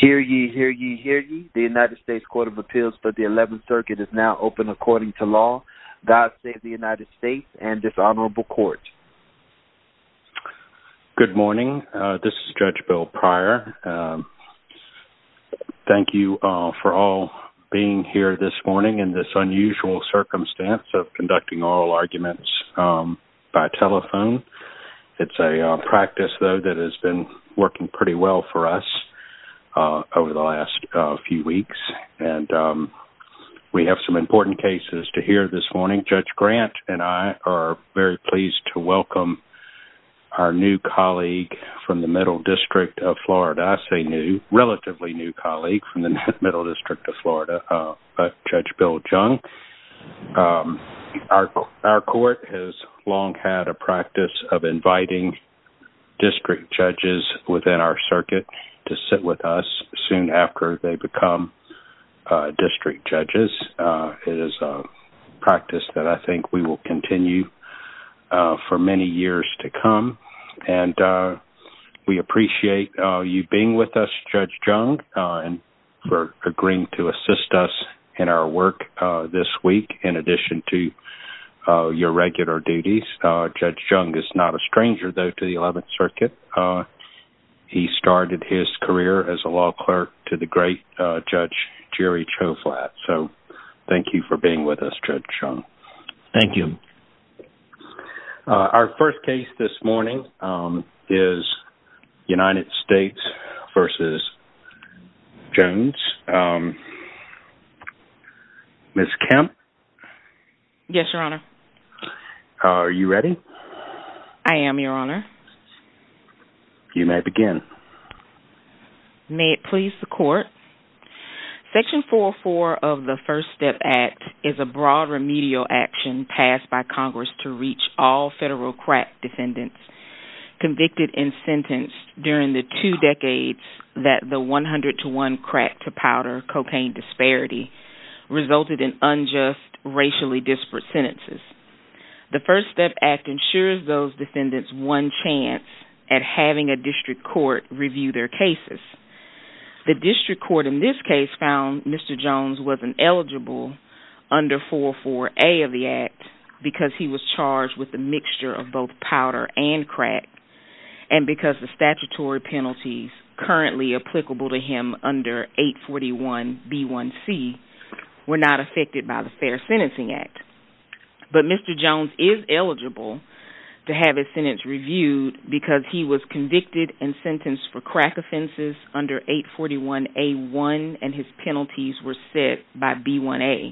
Hear ye, hear ye, hear ye. The United States Court of Appeals for the 11th Circuit is now open according to law. God save the United States and this honorable court. Good morning. This is Judge Bill Pryor. Thank you for all being here this morning in this unusual circumstance of conducting oral arguments by telephone. It's a practice, though, that has been working pretty well for us over the last few weeks and we have some important cases to hear this morning. Judge Grant and I are very pleased to welcome our new colleague from the Middle District of Florida. I say new, relatively new colleague from the Middle District of Florida, Judge Bill Jung. Our court has long had a practice of inviting district judges within our circuit to sit with us soon after they become district judges. It is a practice that I think we will continue for many years to come and we appreciate you being with us, Judge Jung, and agreeing to assist us in our work this week in addition to your regular duties. Judge Jung is not a stranger, though, to the 11th Circuit. He started his career as a law clerk to the great Judge Jerry Choflat, so thank you for being with us, Judge Jung. Thank you. Our first case this morning is Ms. Kemp. Yes, Your Honor. Are you ready? I am, Your Honor. You may begin. May it please the Court. Section 404 of the First Step Act is a broad remedial action passed by Congress to reach all federal crack defendants convicted and sentenced during the two decades that the 100-to-1 crack-to-powder cocaine disparity resulted in unjust, racially disparate sentences. The First Step Act ensures those defendants one chance at having a district court review their cases. The district court in this case found Mr. Jones was ineligible under 404A of the Act because he was charged with a mixture of both powder and crack and because the statutory penalties currently applicable to him under 841B1C were not affected by the Fair Sentencing Act. But Mr. Jones is eligible to have his sentence reviewed because he was convicted and sentenced for crack offenses under 841A1 and his penalties were set by B1A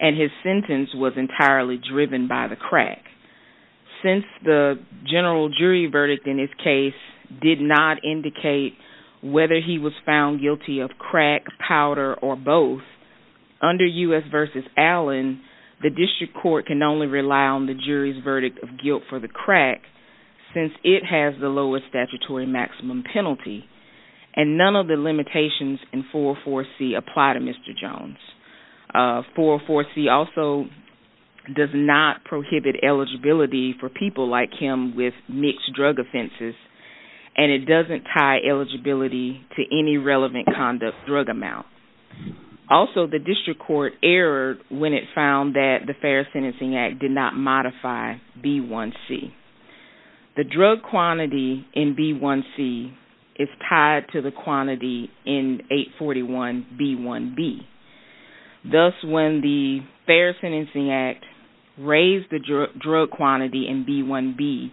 and his sentence was entirely by the crack. Since the general jury verdict in his case did not indicate whether he was found guilty of crack, powder, or both, under U.S. v. Allen, the district court can only rely on the jury's verdict of guilt for the crack since it has the lowest statutory maximum penalty and none of the limitations in 404C apply to Mr. Jones. 404C also does not prohibit eligibility for people like him with mixed drug offenses and it doesn't tie eligibility to any relevant conduct drug amount. Also, the district court erred when it found that the Fair Sentencing Act did not modify B1C. The drug quantity in B1C is tied to the quantity in 841B1B. Thus, when the Fair Sentencing Act raised the drug quantity in B1B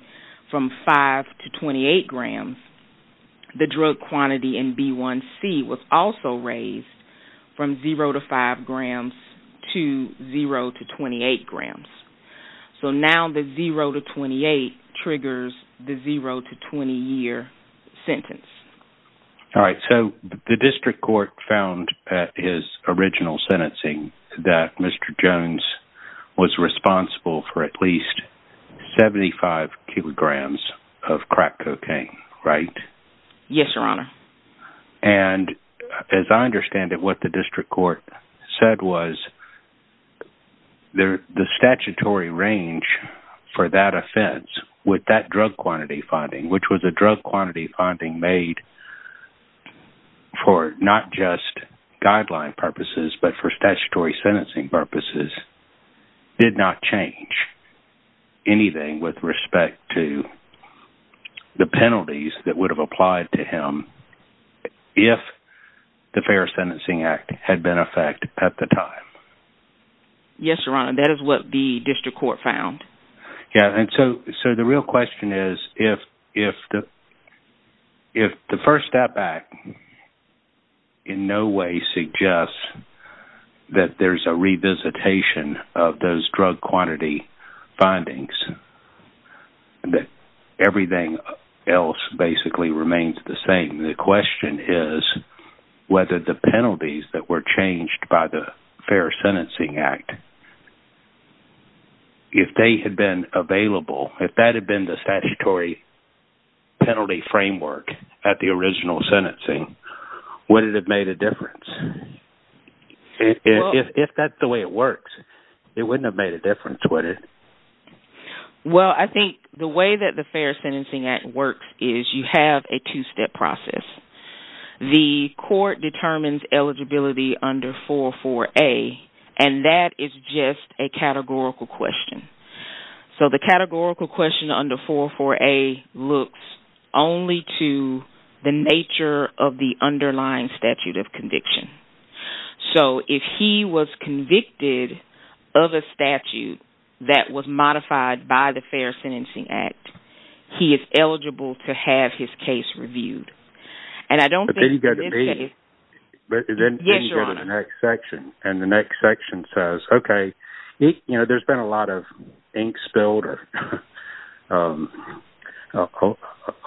from 5 to 28 grams, the drug quantity in B1C was also raised from 0 to 5 grams to 0 to 28 grams. So now the 0 to 28 triggers the 0 to 20 year sentence. All right, so the district court found at his original sentencing that Mr. Jones was responsible for at least 75 kilograms of crack cocaine, right? Yes, your honor. And as I understand it, what the district court said was the statutory range for that offense with that drug quantity finding, which was a drug quantity finding made for not just guideline purposes but for statutory sentencing purposes, did not change anything with respect to the penalties that would have applied to him if the Fair Sentencing Act had been in effect at the time. Yes, your honor. That is what the district court found. Yeah, and so the real question is if the first step back in no way suggests that there's a revisitation of those drug quantity findings, that everything else basically remains the same. The question is whether the penalties that were changed by the Fair Sentencing Act, if they had been available, if that had been the statutory penalty framework at the original sentencing, would it have made a difference? If that's the way it works, it wouldn't have made a difference, would it? Well, I think the way that the Fair Sentencing Act works is you have a two-step process. The court determines eligibility under 404A, and that is just a categorical question. So the categorical question under 404A looks only to the nature of the underlying statute of conviction. So if he was convicted of a statute that was modified by the Fair Sentencing Act, he is eligible to have his case reviewed. But then you go to the next section, and the next ink spilled or a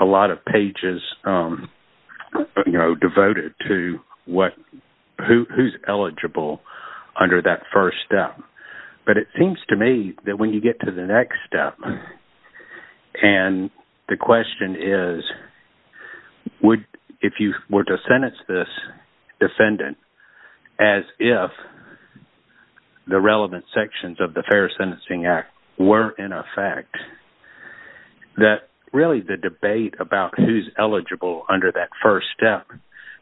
lot of pages devoted to who's eligible under that first step. But it seems to me that when you get to the next step, and the question is, would, if you were to sentence this defendant as if the relevant sections of the Fair Sentencing Act were in effect, that really the debate about who's eligible under that first step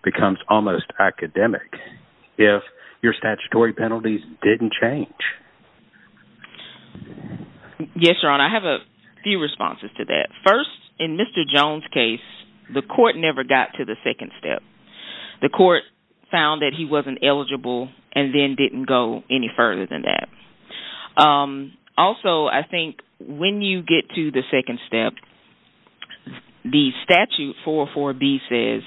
becomes almost academic if your statutory penalties didn't change. Yes, Your Honor, I have a few responses to that. First, in Mr. Jones' case, the court never got to the second step. The court found that he wasn't eligible and then didn't go any further than that. Also, I think when you get to the second step, the statute 404B says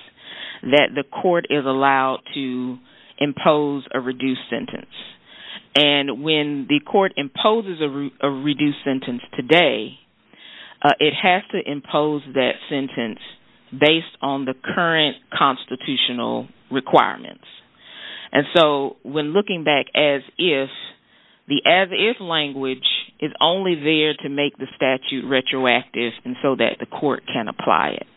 that the court is allowed to impose a reduced sentence today. It has to impose that sentence based on the current constitutional requirements. And so when looking back as if, the as if language is only there to make the statute retroactive and so that the court can apply it.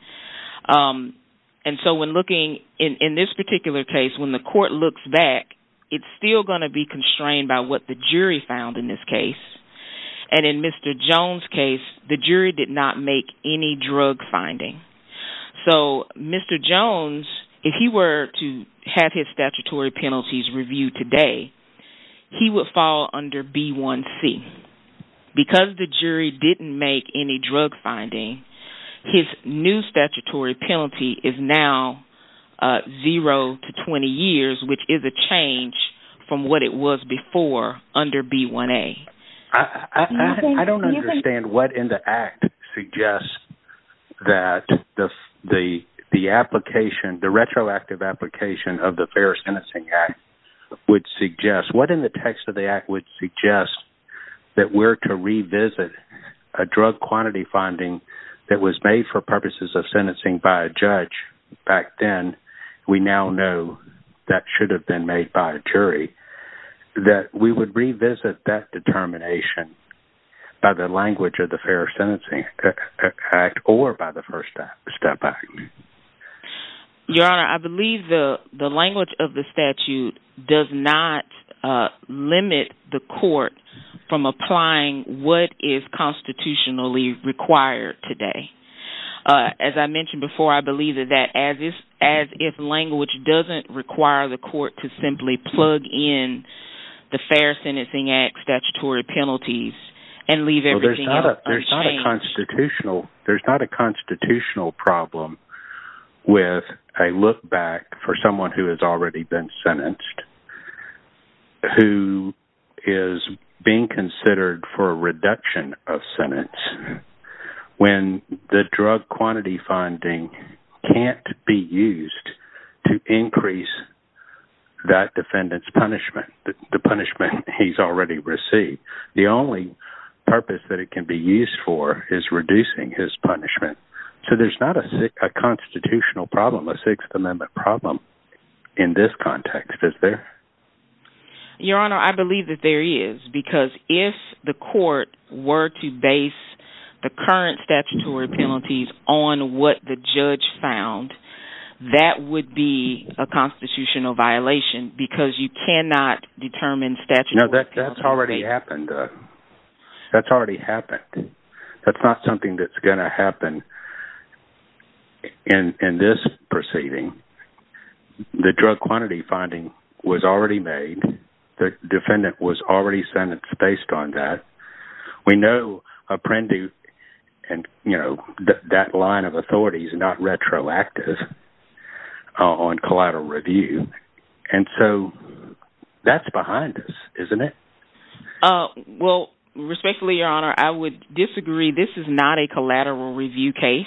And so when looking in this particular case, when the court looks back, it's still going to be constrained by what the jury found in this case. And in Mr. Jones' case, the jury did not make any drug finding. So Mr. Jones, if he were to have his statutory penalties reviewed today, he would fall under B1C. Because the jury didn't make any drug finding, his new statutory penalty is now zero to 20 years, which is a change from what it was before under B1A. I don't understand what in the act suggests that the application, the retroactive application of the Fair Sentencing Act would suggest. What in the text of the act would suggest that we're to revisit a drug quantity finding that was made for purposes of sentencing by a judge back then, we now know that should have been made by a jury, that we would revisit that determination by the language of the Fair Sentencing Act or by the First Step Act? Your Honor, I believe the language of the statute does not limit the court from applying what is as if language doesn't require the court to simply plug in the Fair Sentencing Act statutory penalties and leave everything else. There's not a constitutional problem with a look back for someone who has already been sentenced, who is being considered for a reduction of sentence, when the drug quantity finding can't be used to increase that defendant's punishment, the punishment he's already received. The only purpose that it can be used for is reducing his punishment. So there's not a constitutional problem, a Sixth Amendment problem in this context, is there? Your Honor, I believe that there is, because if the court were to base the current statutory penalties on what the judge found, that would be a constitutional violation, because you cannot determine statutory penalties. No, that's already happened. That's already happened. That's not something that's going to happen in this proceeding. The drug quantity finding was already made. The defendant was already sentenced based on that. We know Apprendi and, you know, that line of authority is not retroactive on collateral review. And so that's behind us, isn't it? Well, respectfully, Your Honor, I would disagree. This is not a collateral review case.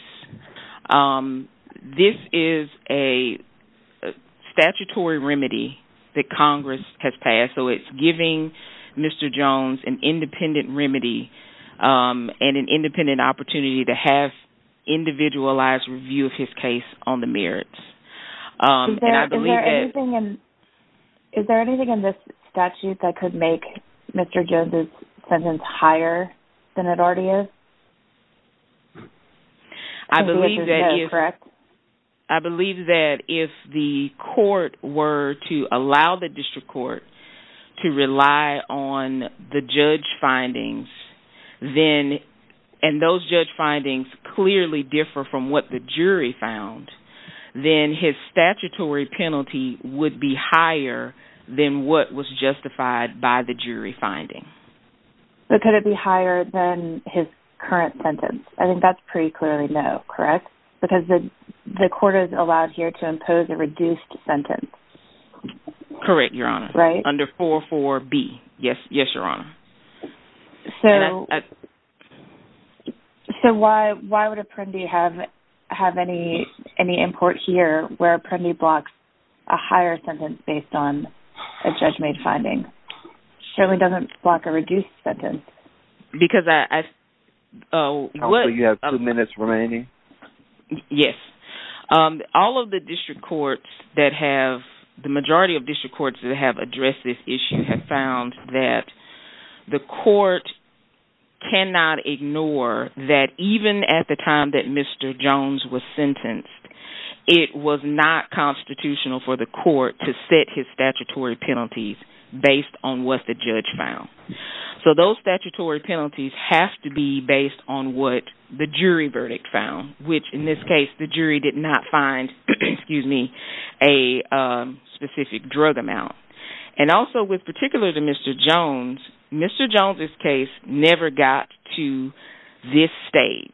This is a statutory remedy that Congress has passed. So it's giving Mr. Jones an independent remedy and an independent opportunity to have individualized review of his case on the merits. Is there anything in this statute that could make Mr. Jones' sentence higher than it already is? I believe that if the court were to allow the district court to rely on the judge findings, then—and those judge findings clearly differ from what the jury found—then his statutory penalty would be higher than what was justified by the jury finding. But could it be higher than his current sentence? I think that's pretty clearly no, correct? Because the court is allowed here to impose a reduced sentence. Correct, Your Honor. Right. Under 4.4.b. Yes, Your Honor. So why would Apprendi have any import here where Apprendi blocks a higher sentence based on a judge-made finding? It certainly doesn't block a reduced sentence. Because I— Hopefully, you have two minutes remaining. Yes. All of the district courts that have—the majority of district courts that have addressed this issue have found that the court cannot ignore that even at the time that Mr. Jones was sentenced, it was not constitutional for the court to set his statutory penalties based on what the judge found. So those statutory penalties have to be based on what the jury found. And also, with particular to Mr. Jones, Mr. Jones' case never got to this stage.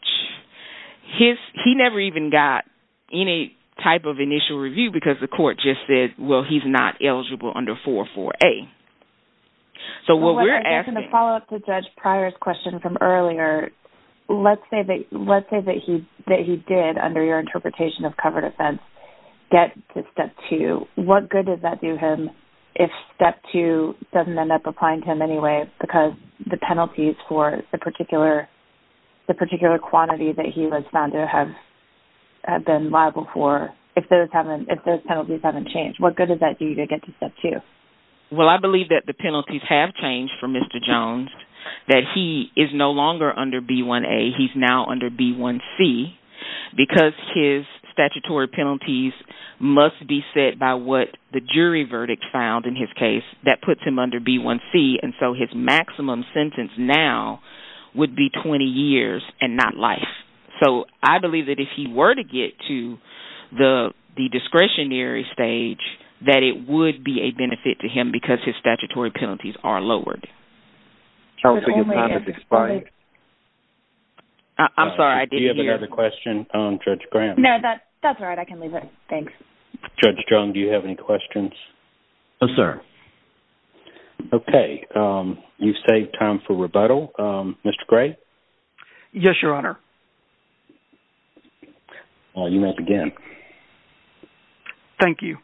His—he never even got any type of initial review because the court just said, well, he's not eligible under 4.4.a. So what we're asking— In the follow-up to Judge Pryor's question from earlier, let's say that he did, under your interpretation of covered offense, get to Step 2. What good did that do him if Step 2 doesn't end up applying to him anyway because the penalties for the particular quantity that he was found to have been liable for, if those penalties haven't changed, what good does that do you to get to Step 2? Well, I believe that the penalties have changed for Mr. Jones, that he is no longer under B.1.a. He's now under B.1.c. Because his statutory penalties must be set by what the jury verdict found in his case that puts him under B.1.c. And so his maximum sentence now would be 20 years and not life. So I believe that if he were to get to the discretionary stage, that it would be a benefit to him because his statutory penalties are lowered. I'm sorry, I didn't hear— Do you have another question, Judge Graham? No, that's all right. I can leave it. Thanks. Judge Jones, do you have any questions? No, sir. Okay. You've saved time for rebuttal. Mr. Gray? Yes, Your Honor. You may begin. Thank you,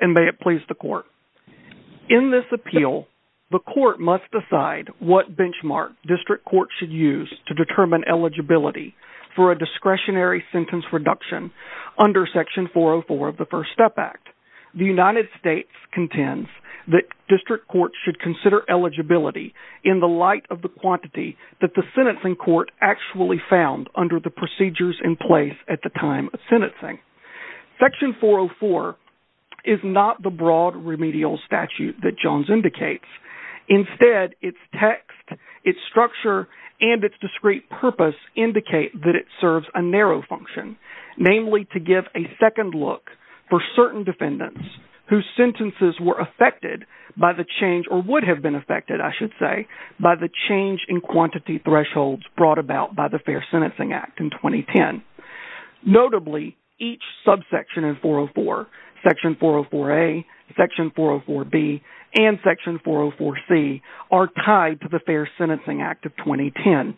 and may it please the Court. In this appeal, the Court must decide what benchmark district courts should use to determine eligibility for a discretionary sentence reduction under Section 404 of the First Step Act. The United States contends that district courts should consider eligibility in the light of the quantity that the sentencing court actually found under the procedures in place at the time of sentencing. Section 404 is not the broad and its discrete purpose indicate that it serves a narrow function, namely to give a second look for certain defendants whose sentences were affected by the change or would have been affected, I should say, by the change in quantity thresholds brought about by the Fair Sentencing Act in 2010. Notably, each subsection in 404—Section 404a, Section 404b, and Section 404c—are tied to the Fair Sentencing Act of 2010.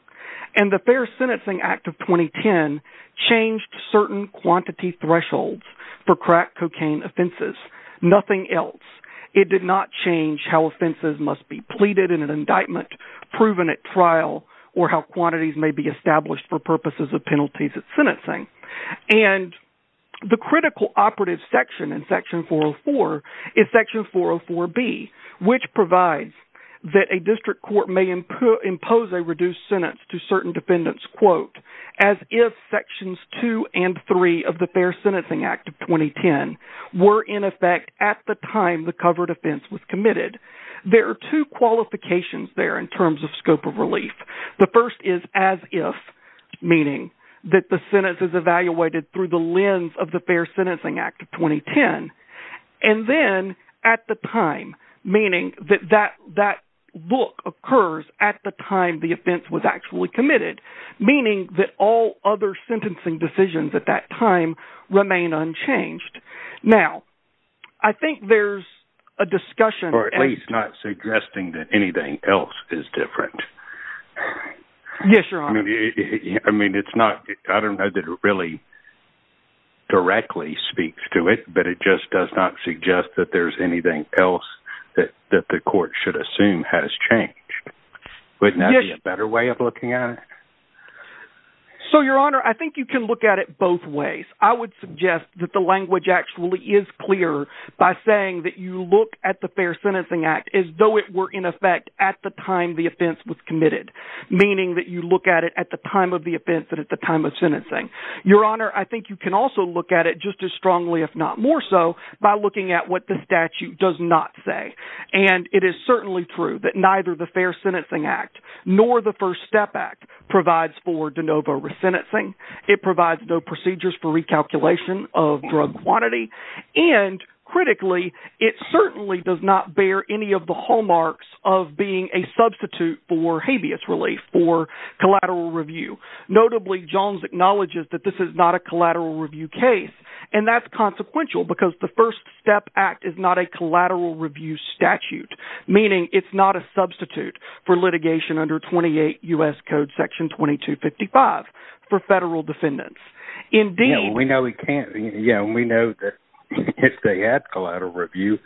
And the Fair Sentencing Act of 2010 changed certain quantity thresholds for crack cocaine offenses. Nothing else. It did not change how offenses must be pleaded in an indictment, proven at trial, or how quantities may be established for purposes of penalties at sentencing. And the critical operative section in Section 404 is Section 404b, which provides that a district court may impose a reduced sentence to certain defendants, quote, as if Sections 2 and 3 of the Fair Sentencing Act of 2010 were in effect at the time the covered offense was committed. There are two qualifications there in terms of scope of relief. The first is as if, meaning that the sentence is evaluated through the lens of the Fair Sentencing Act of 2010. And then, at the time, meaning that that look occurs at the time the offense was actually committed, meaning that all other sentencing decisions at that time remain unchanged. Now, I think there's a discussion— Or at least not suggesting that anything else is different. Yes, Your Honor. I mean, it's not—I don't know that it really directly speaks to it, but it just does not suggest that there's anything else that the court should assume has changed. Wouldn't that be a better way of looking at it? So, Your Honor, I think you can look at it both ways. I would suggest that the language actually is clear by saying that you look at the Fair Sentencing Act as though it were in effect at the time the offense was committed, meaning that you look at it at the time of the offense and at the time of sentencing. Your Honor, I think you can also look at it just as strongly, if not more so, by looking at what the statute does not say. And it is certainly true that neither the Fair Sentencing Act nor the First Step Act provides for de novo resentencing. It provides no procedures for recalculation of drug quantity. And, critically, it certainly does not bear any of the hallmarks of being a substitute for habeas relief, for collateral review. Notably, Jones acknowledges that this is not a collateral review case, and that's consequential because the First Step Act is not a collateral review statute, meaning it's not a substitute for litigation under 28 U.S. Code Section 2255 for federal defendants. Indeed— Yeah, we know that if they had collateral review,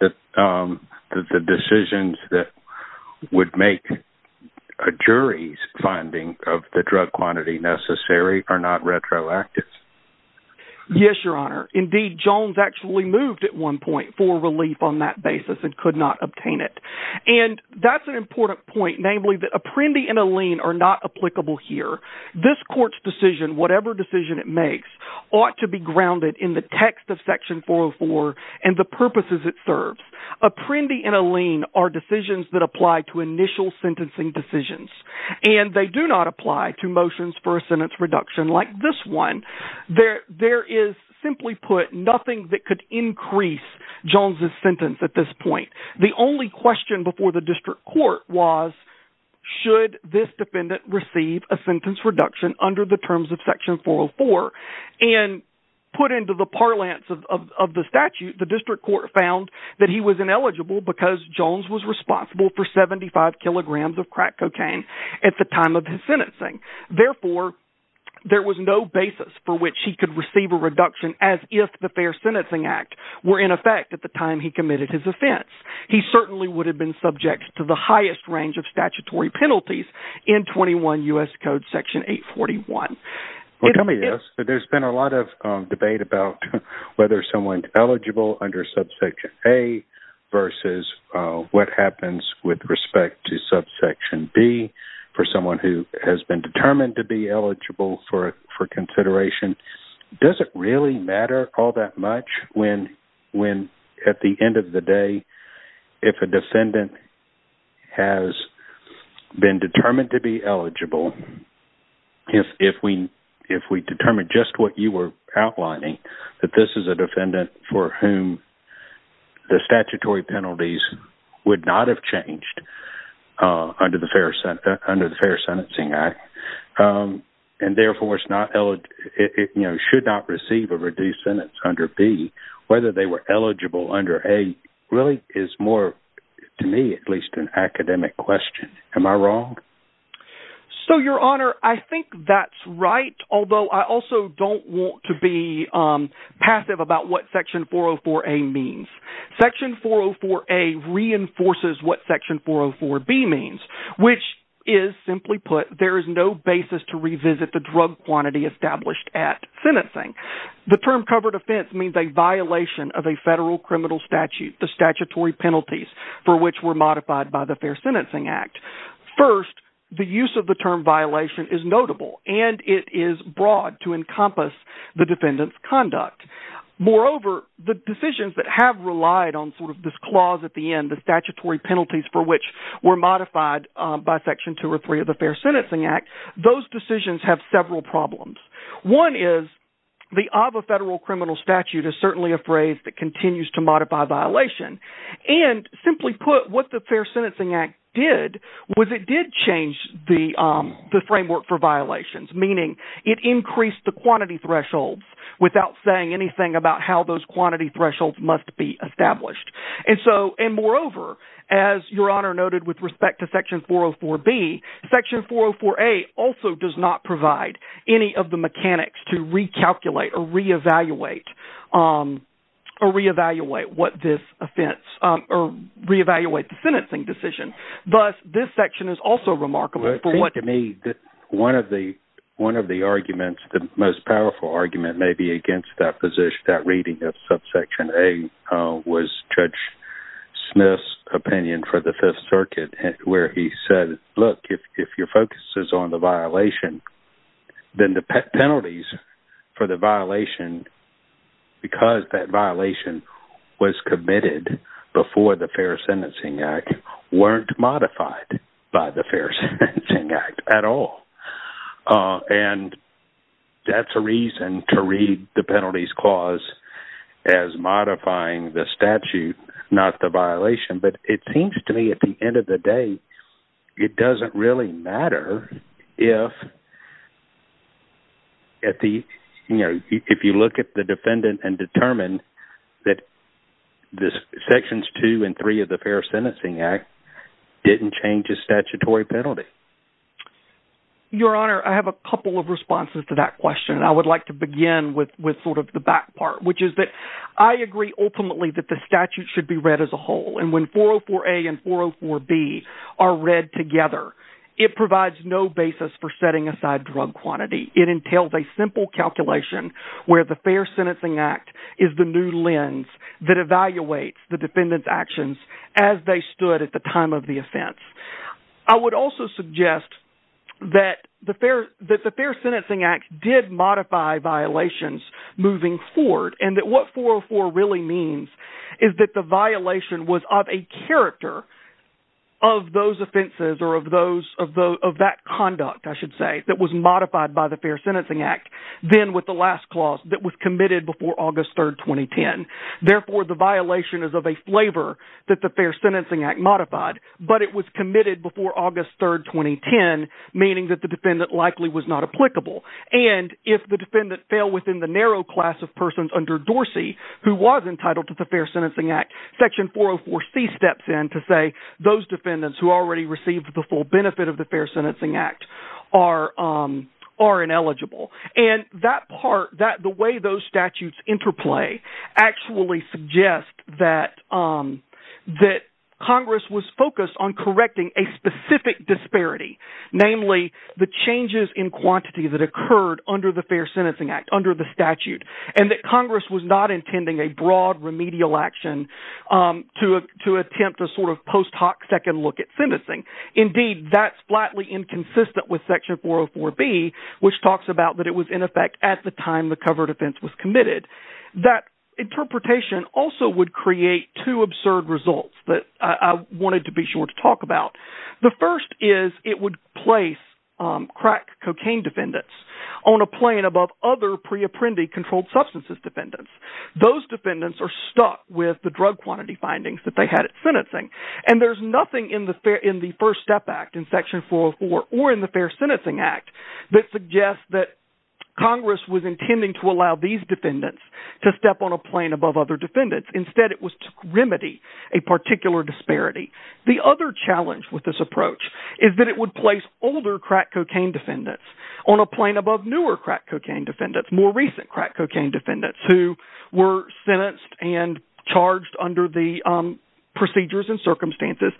that the decisions that would make a jury's finding of the drug quantity necessary are not retroactive. Yes, Your Honor. Indeed, Jones actually moved at one point for relief on that basis and could not obtain it. And that's an important point, namely that Apprendi and Alene are not applicable here. This Court's decision, whatever decision it makes, ought to be grounded in the text of Section 404 and the purposes it serves. Apprendi and Alene are decisions that apply to initial sentencing decisions, and they do not apply to motions for a sentence reduction like this one. There is, simply put, nothing that could increase Jones's sentence at this point. The only question before the district court was, should this defendant receive a sentence reduction under the terms of Section 404? And put into the parlance of the statute, the district court found that he was ineligible because Jones was responsible for 75 kilograms of crack cocaine at the time of his sentencing. Therefore, there was no basis for which he could receive a reduction as if the Fair Sentencing Act were in effect at the time he committed his offense. He certainly would have been subject to the highest range of statutory penalties in 21 U.S. Code Section 841. Well, tell me this. There's been a lot of debate about whether someone's eligible under Subsection A versus what happens with respect to Subsection B for someone who has been determined to be eligible for consideration. Does it really matter all that much when, at the end of the day, if a defendant has been determined to be eligible, if we determine just what you were outlining, that this is a defendant for whom the statutory penalties would not have changed under the Fair Sentencing Act, and therefore should not receive a reduced sentence under B, whether they were eligible under A really is more, to me at least, an academic question. Am I wrong? So, Your Honor, I think that's right, although I also don't want to be passive about what Section 404A means. Section 404A reinforces what Section 404B means, which is, simply put, there is no basis to revisit the drug quantity established at sentencing. The term covered offense means a violation of a federal criminal statute, the statutory penalties for which were modified by the Fair Sentencing Act. First, the use of the term violation is notable and it is broad to encompass the defendant's conduct. Moreover, the decisions that have relied on sort of this clause at the end, the statutory penalties for which were modified by Section 203 of the Fair Sentencing Act, those decisions have several problems. One is the of a federal criminal statute is certainly a phrase that continues to modify violation. And simply put, what the Fair Sentencing Act did was it did change the framework for violations, meaning it increased the quantity thresholds without saying anything about how those quantity thresholds must be established. And so, and moreover, as Your Honor noted with respect to or re-evaluate what this offense, or re-evaluate the sentencing decision, but this section is also remarkable for what... I think to me that one of the arguments, the most powerful argument maybe against that position, that reading of Subsection A was Judge Smith's opinion for the Fifth Circuit where he said, look, if your focus is on the violation, because that violation was committed before the Fair Sentencing Act, weren't modified by the Fair Sentencing Act at all. And that's a reason to read the Penalties Clause as modifying the statute, not the violation. But it seems to me at the end of the day, it doesn't really matter if you look at the defendant and determine that this Sections 2 and 3 of the Fair Sentencing Act didn't change a statutory penalty. Your Honor, I have a couple of responses to that question. I would like to begin with sort of the back part, which is that I agree ultimately that the statute should be read as a whole. And when 404A and 404B are read together, it provides no basis for setting aside drug quantity. It entails a simple calculation where the Fair Sentencing Act is the new lens that evaluates the defendant's actions as they stood at the time of the offense. I would also suggest that the Fair Sentencing Act did modify violations moving forward, and that what 404 really means is that the violation was of a character of those offenses or of that conduct, I should say, that was modified by the Fair Sentencing Act, then with the last clause that was committed before August 3, 2010. Therefore, the violation is of a flavor that the Fair Sentencing Act modified, but it was committed before August 3, 2010, meaning that the defendant likely was not applicable. And if the defendant fell within the who was entitled to the Fair Sentencing Act, Section 404C steps in to say those defendants who already received the full benefit of the Fair Sentencing Act are ineligible. And that part, the way those statutes interplay actually suggest that Congress was focused on correcting a specific disparity, namely the changes in quantity that occurred under the Fair Sentencing Act, under the statute, and that Congress was not intending a broad remedial action to attempt a sort of post hoc second look at sentencing. Indeed, that's flatly inconsistent with Section 404B, which talks about that it was in effect at the time the covered offense was committed. That interpretation also would create two absurd results that I wanted to be sure to control substances defendants. Those defendants are stuck with the drug quantity findings that they had at sentencing. And there's nothing in the First Step Act in Section 404 or in the Fair Sentencing Act that suggests that Congress was intending to allow these defendants to step on a plane above other defendants. Instead, it was to remedy a particular disparity. The other challenge with this approach is that it would place older crack cocaine defendants on a plane above newer crack cocaine defendants, more recent crack cocaine defendants who were sentenced and charged under the procedures and circumstances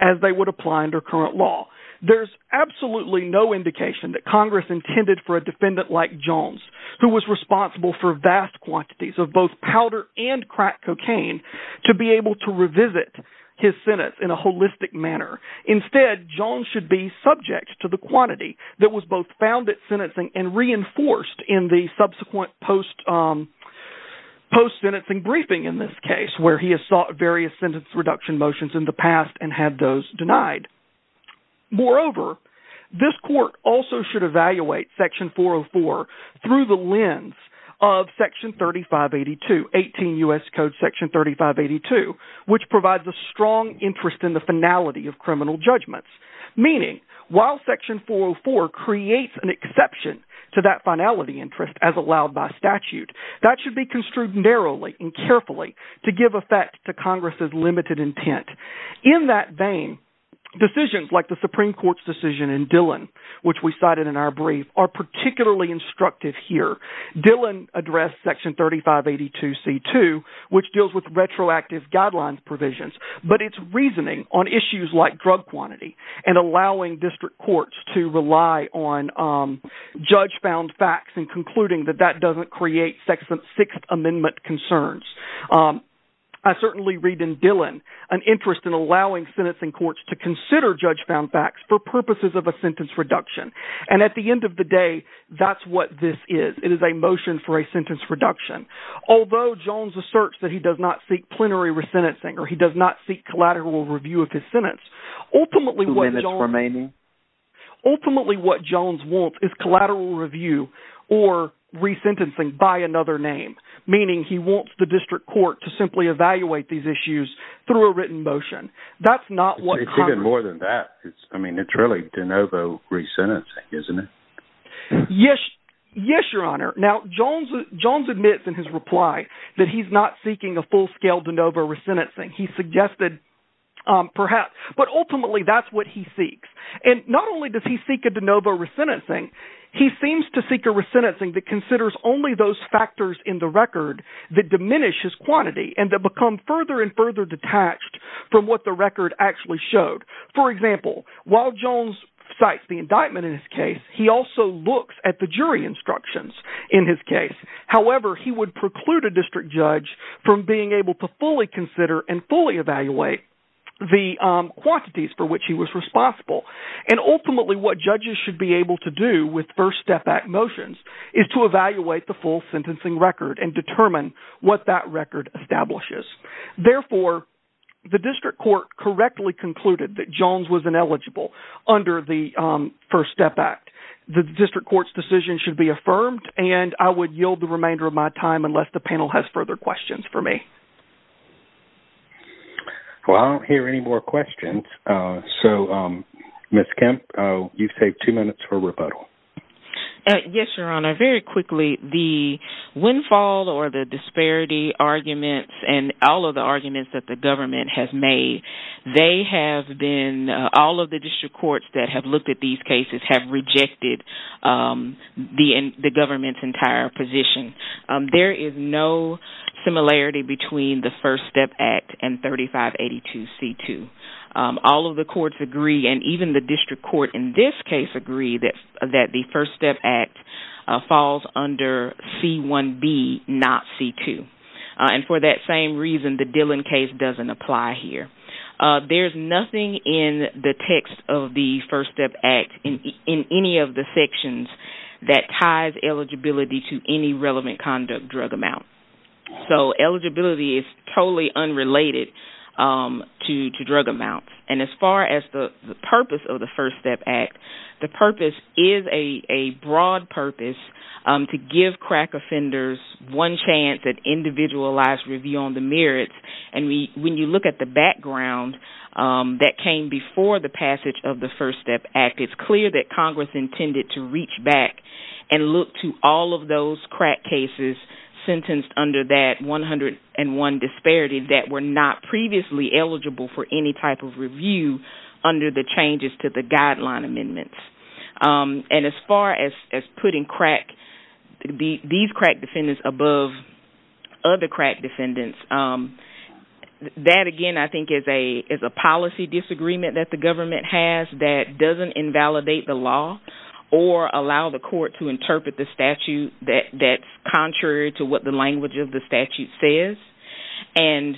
as they would apply under current law. There's absolutely no indication that Congress intended for a defendant like Jones, who was responsible for vast quantities of both powder and crack cocaine, to be able to revisit his sentence in a holistic manner. Instead, Jones should be subject to the quantity that was both found at sentencing and reinforced in the subsequent post-sentencing briefing in this case, where he has sought various sentence reduction motions in the past and had those denied. Moreover, this court also should evaluate Section 404 through the lens of Section 3582, 18 U.S. Code Section 3582, which provides a strong interest in the finality of criminal judgments. Meaning, while Section 404 creates an exception to that finality interest as allowed by statute, that should be construed narrowly and carefully to give effect to Congress's limited intent. In that vein, decisions like the Supreme Court's decision in Dillon, which we cited in our brief, are particularly instructive here. Dillon addressed Section 3582c2, which deals with and allowing district courts to rely on judge-found facts and concluding that that doesn't create Sixth Amendment concerns. I certainly read in Dillon an interest in allowing sentencing courts to consider judge-found facts for purposes of a sentence reduction. And at the end of the day, that's what this is. It is a motion for a sentence reduction. Although Jones asserts that he does not seek plenary re-sentencing or he does not seek review of his sentence, ultimately what Jones wants is collateral review or re-sentencing by another name, meaning he wants the district court to simply evaluate these issues through a written motion. That's not what Congress... It's even more than that. I mean, it's really de novo re-sentencing, isn't it? Yes, Your Honor. Now, Jones admits in his reply that he's not seeking a full-scale de novo re-sentencing. He suggested perhaps, but ultimately that's what he seeks. And not only does he seek a de novo re-sentencing, he seems to seek a re-sentencing that considers only those factors in the record that diminish his quantity and that become further and further detached from what the record actually showed. For example, while Jones cites the indictment in his case, he also looks at the jury instructions in his case. However, he would preclude a district judge from being able to fully consider and fully evaluate the quantities for which he was responsible. And ultimately, what judges should be able to do with First Step Act motions is to evaluate the full sentencing record and determine what that record establishes. Therefore, the district court correctly concluded that Jones was ineligible under the First Step Act. The district court's decision should be and I would yield the remainder of my time unless the panel has further questions for me. Well, I don't hear any more questions. So, Ms. Kemp, you've saved two minutes for rebuttal. Yes, Your Honor. Very quickly, the windfall or the disparity arguments and all of the arguments that the government has made, they have been, all of the district courts that have looked at these cases have rejected the government's entire position. There is no similarity between the First Step Act and 3582C2. All of the courts agree and even the district court in this case agree that the First Step Act falls under C1B, not C2. And for that same reason, the Dillon case doesn't apply here. There's nothing in the text of the First Step Act in any of the sections that ties eligibility to any relevant conduct drug amount. So, eligibility is totally unrelated to drug amounts. And as far as the purpose of the First Step Act, the purpose is a broad purpose to give crack offenders one chance at individualized review on the merits. And when you look at the background that came before the passage of the First Step Act, it's clear that Congress intended to reach back and look to all of those crack cases sentenced under that 101 disparity that were not previously eligible for any type of review under the changes to the guideline amendments. And as far as putting these crack defendants above other crack defendants, that again I think is a policy disagreement that the government has that doesn't invalidate the law or allow the court to interpret the statute that's contrary to what the language of the statute says. And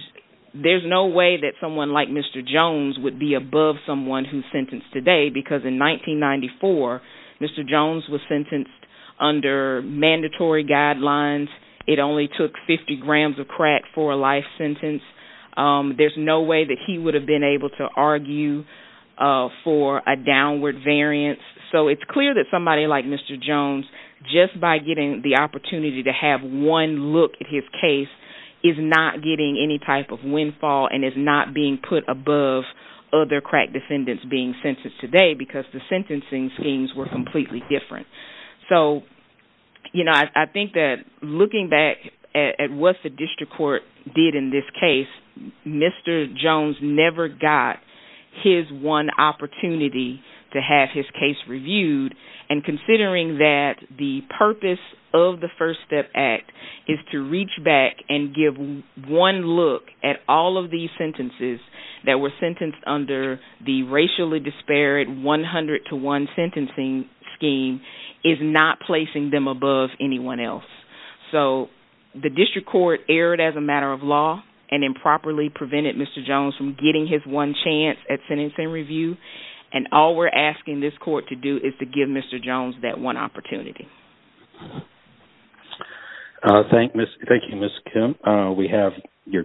there's no way that someone like Mr. Jones would be above someone who's sentenced today because in 1994, Mr. Jones was sentenced under mandatory guidelines. It only took 50 grams of crack for a life sentence. There's no way that he would have been able to argue for a downward variance. So, it's clear that somebody like Mr. Jones, just by getting the opportunity to have one look at his case, is not getting any type of other crack defendants being sentenced today because the sentencing schemes were completely different. So, you know, I think that looking back at what the district court did in this case, Mr. Jones never got his one opportunity to have his case reviewed. And considering that the purpose of the First Step Act is to reach back and give one look at all of these sentences that were under the racially disparate 100 to 1 sentencing scheme is not placing them above anyone else. So, the district court erred as a matter of law and improperly prevented Mr. Jones from getting his one chance at sentencing review. And all we're asking this court to do is to give Mr. Jones that one opportunity. Thank you, Ms. Kim. We have your case and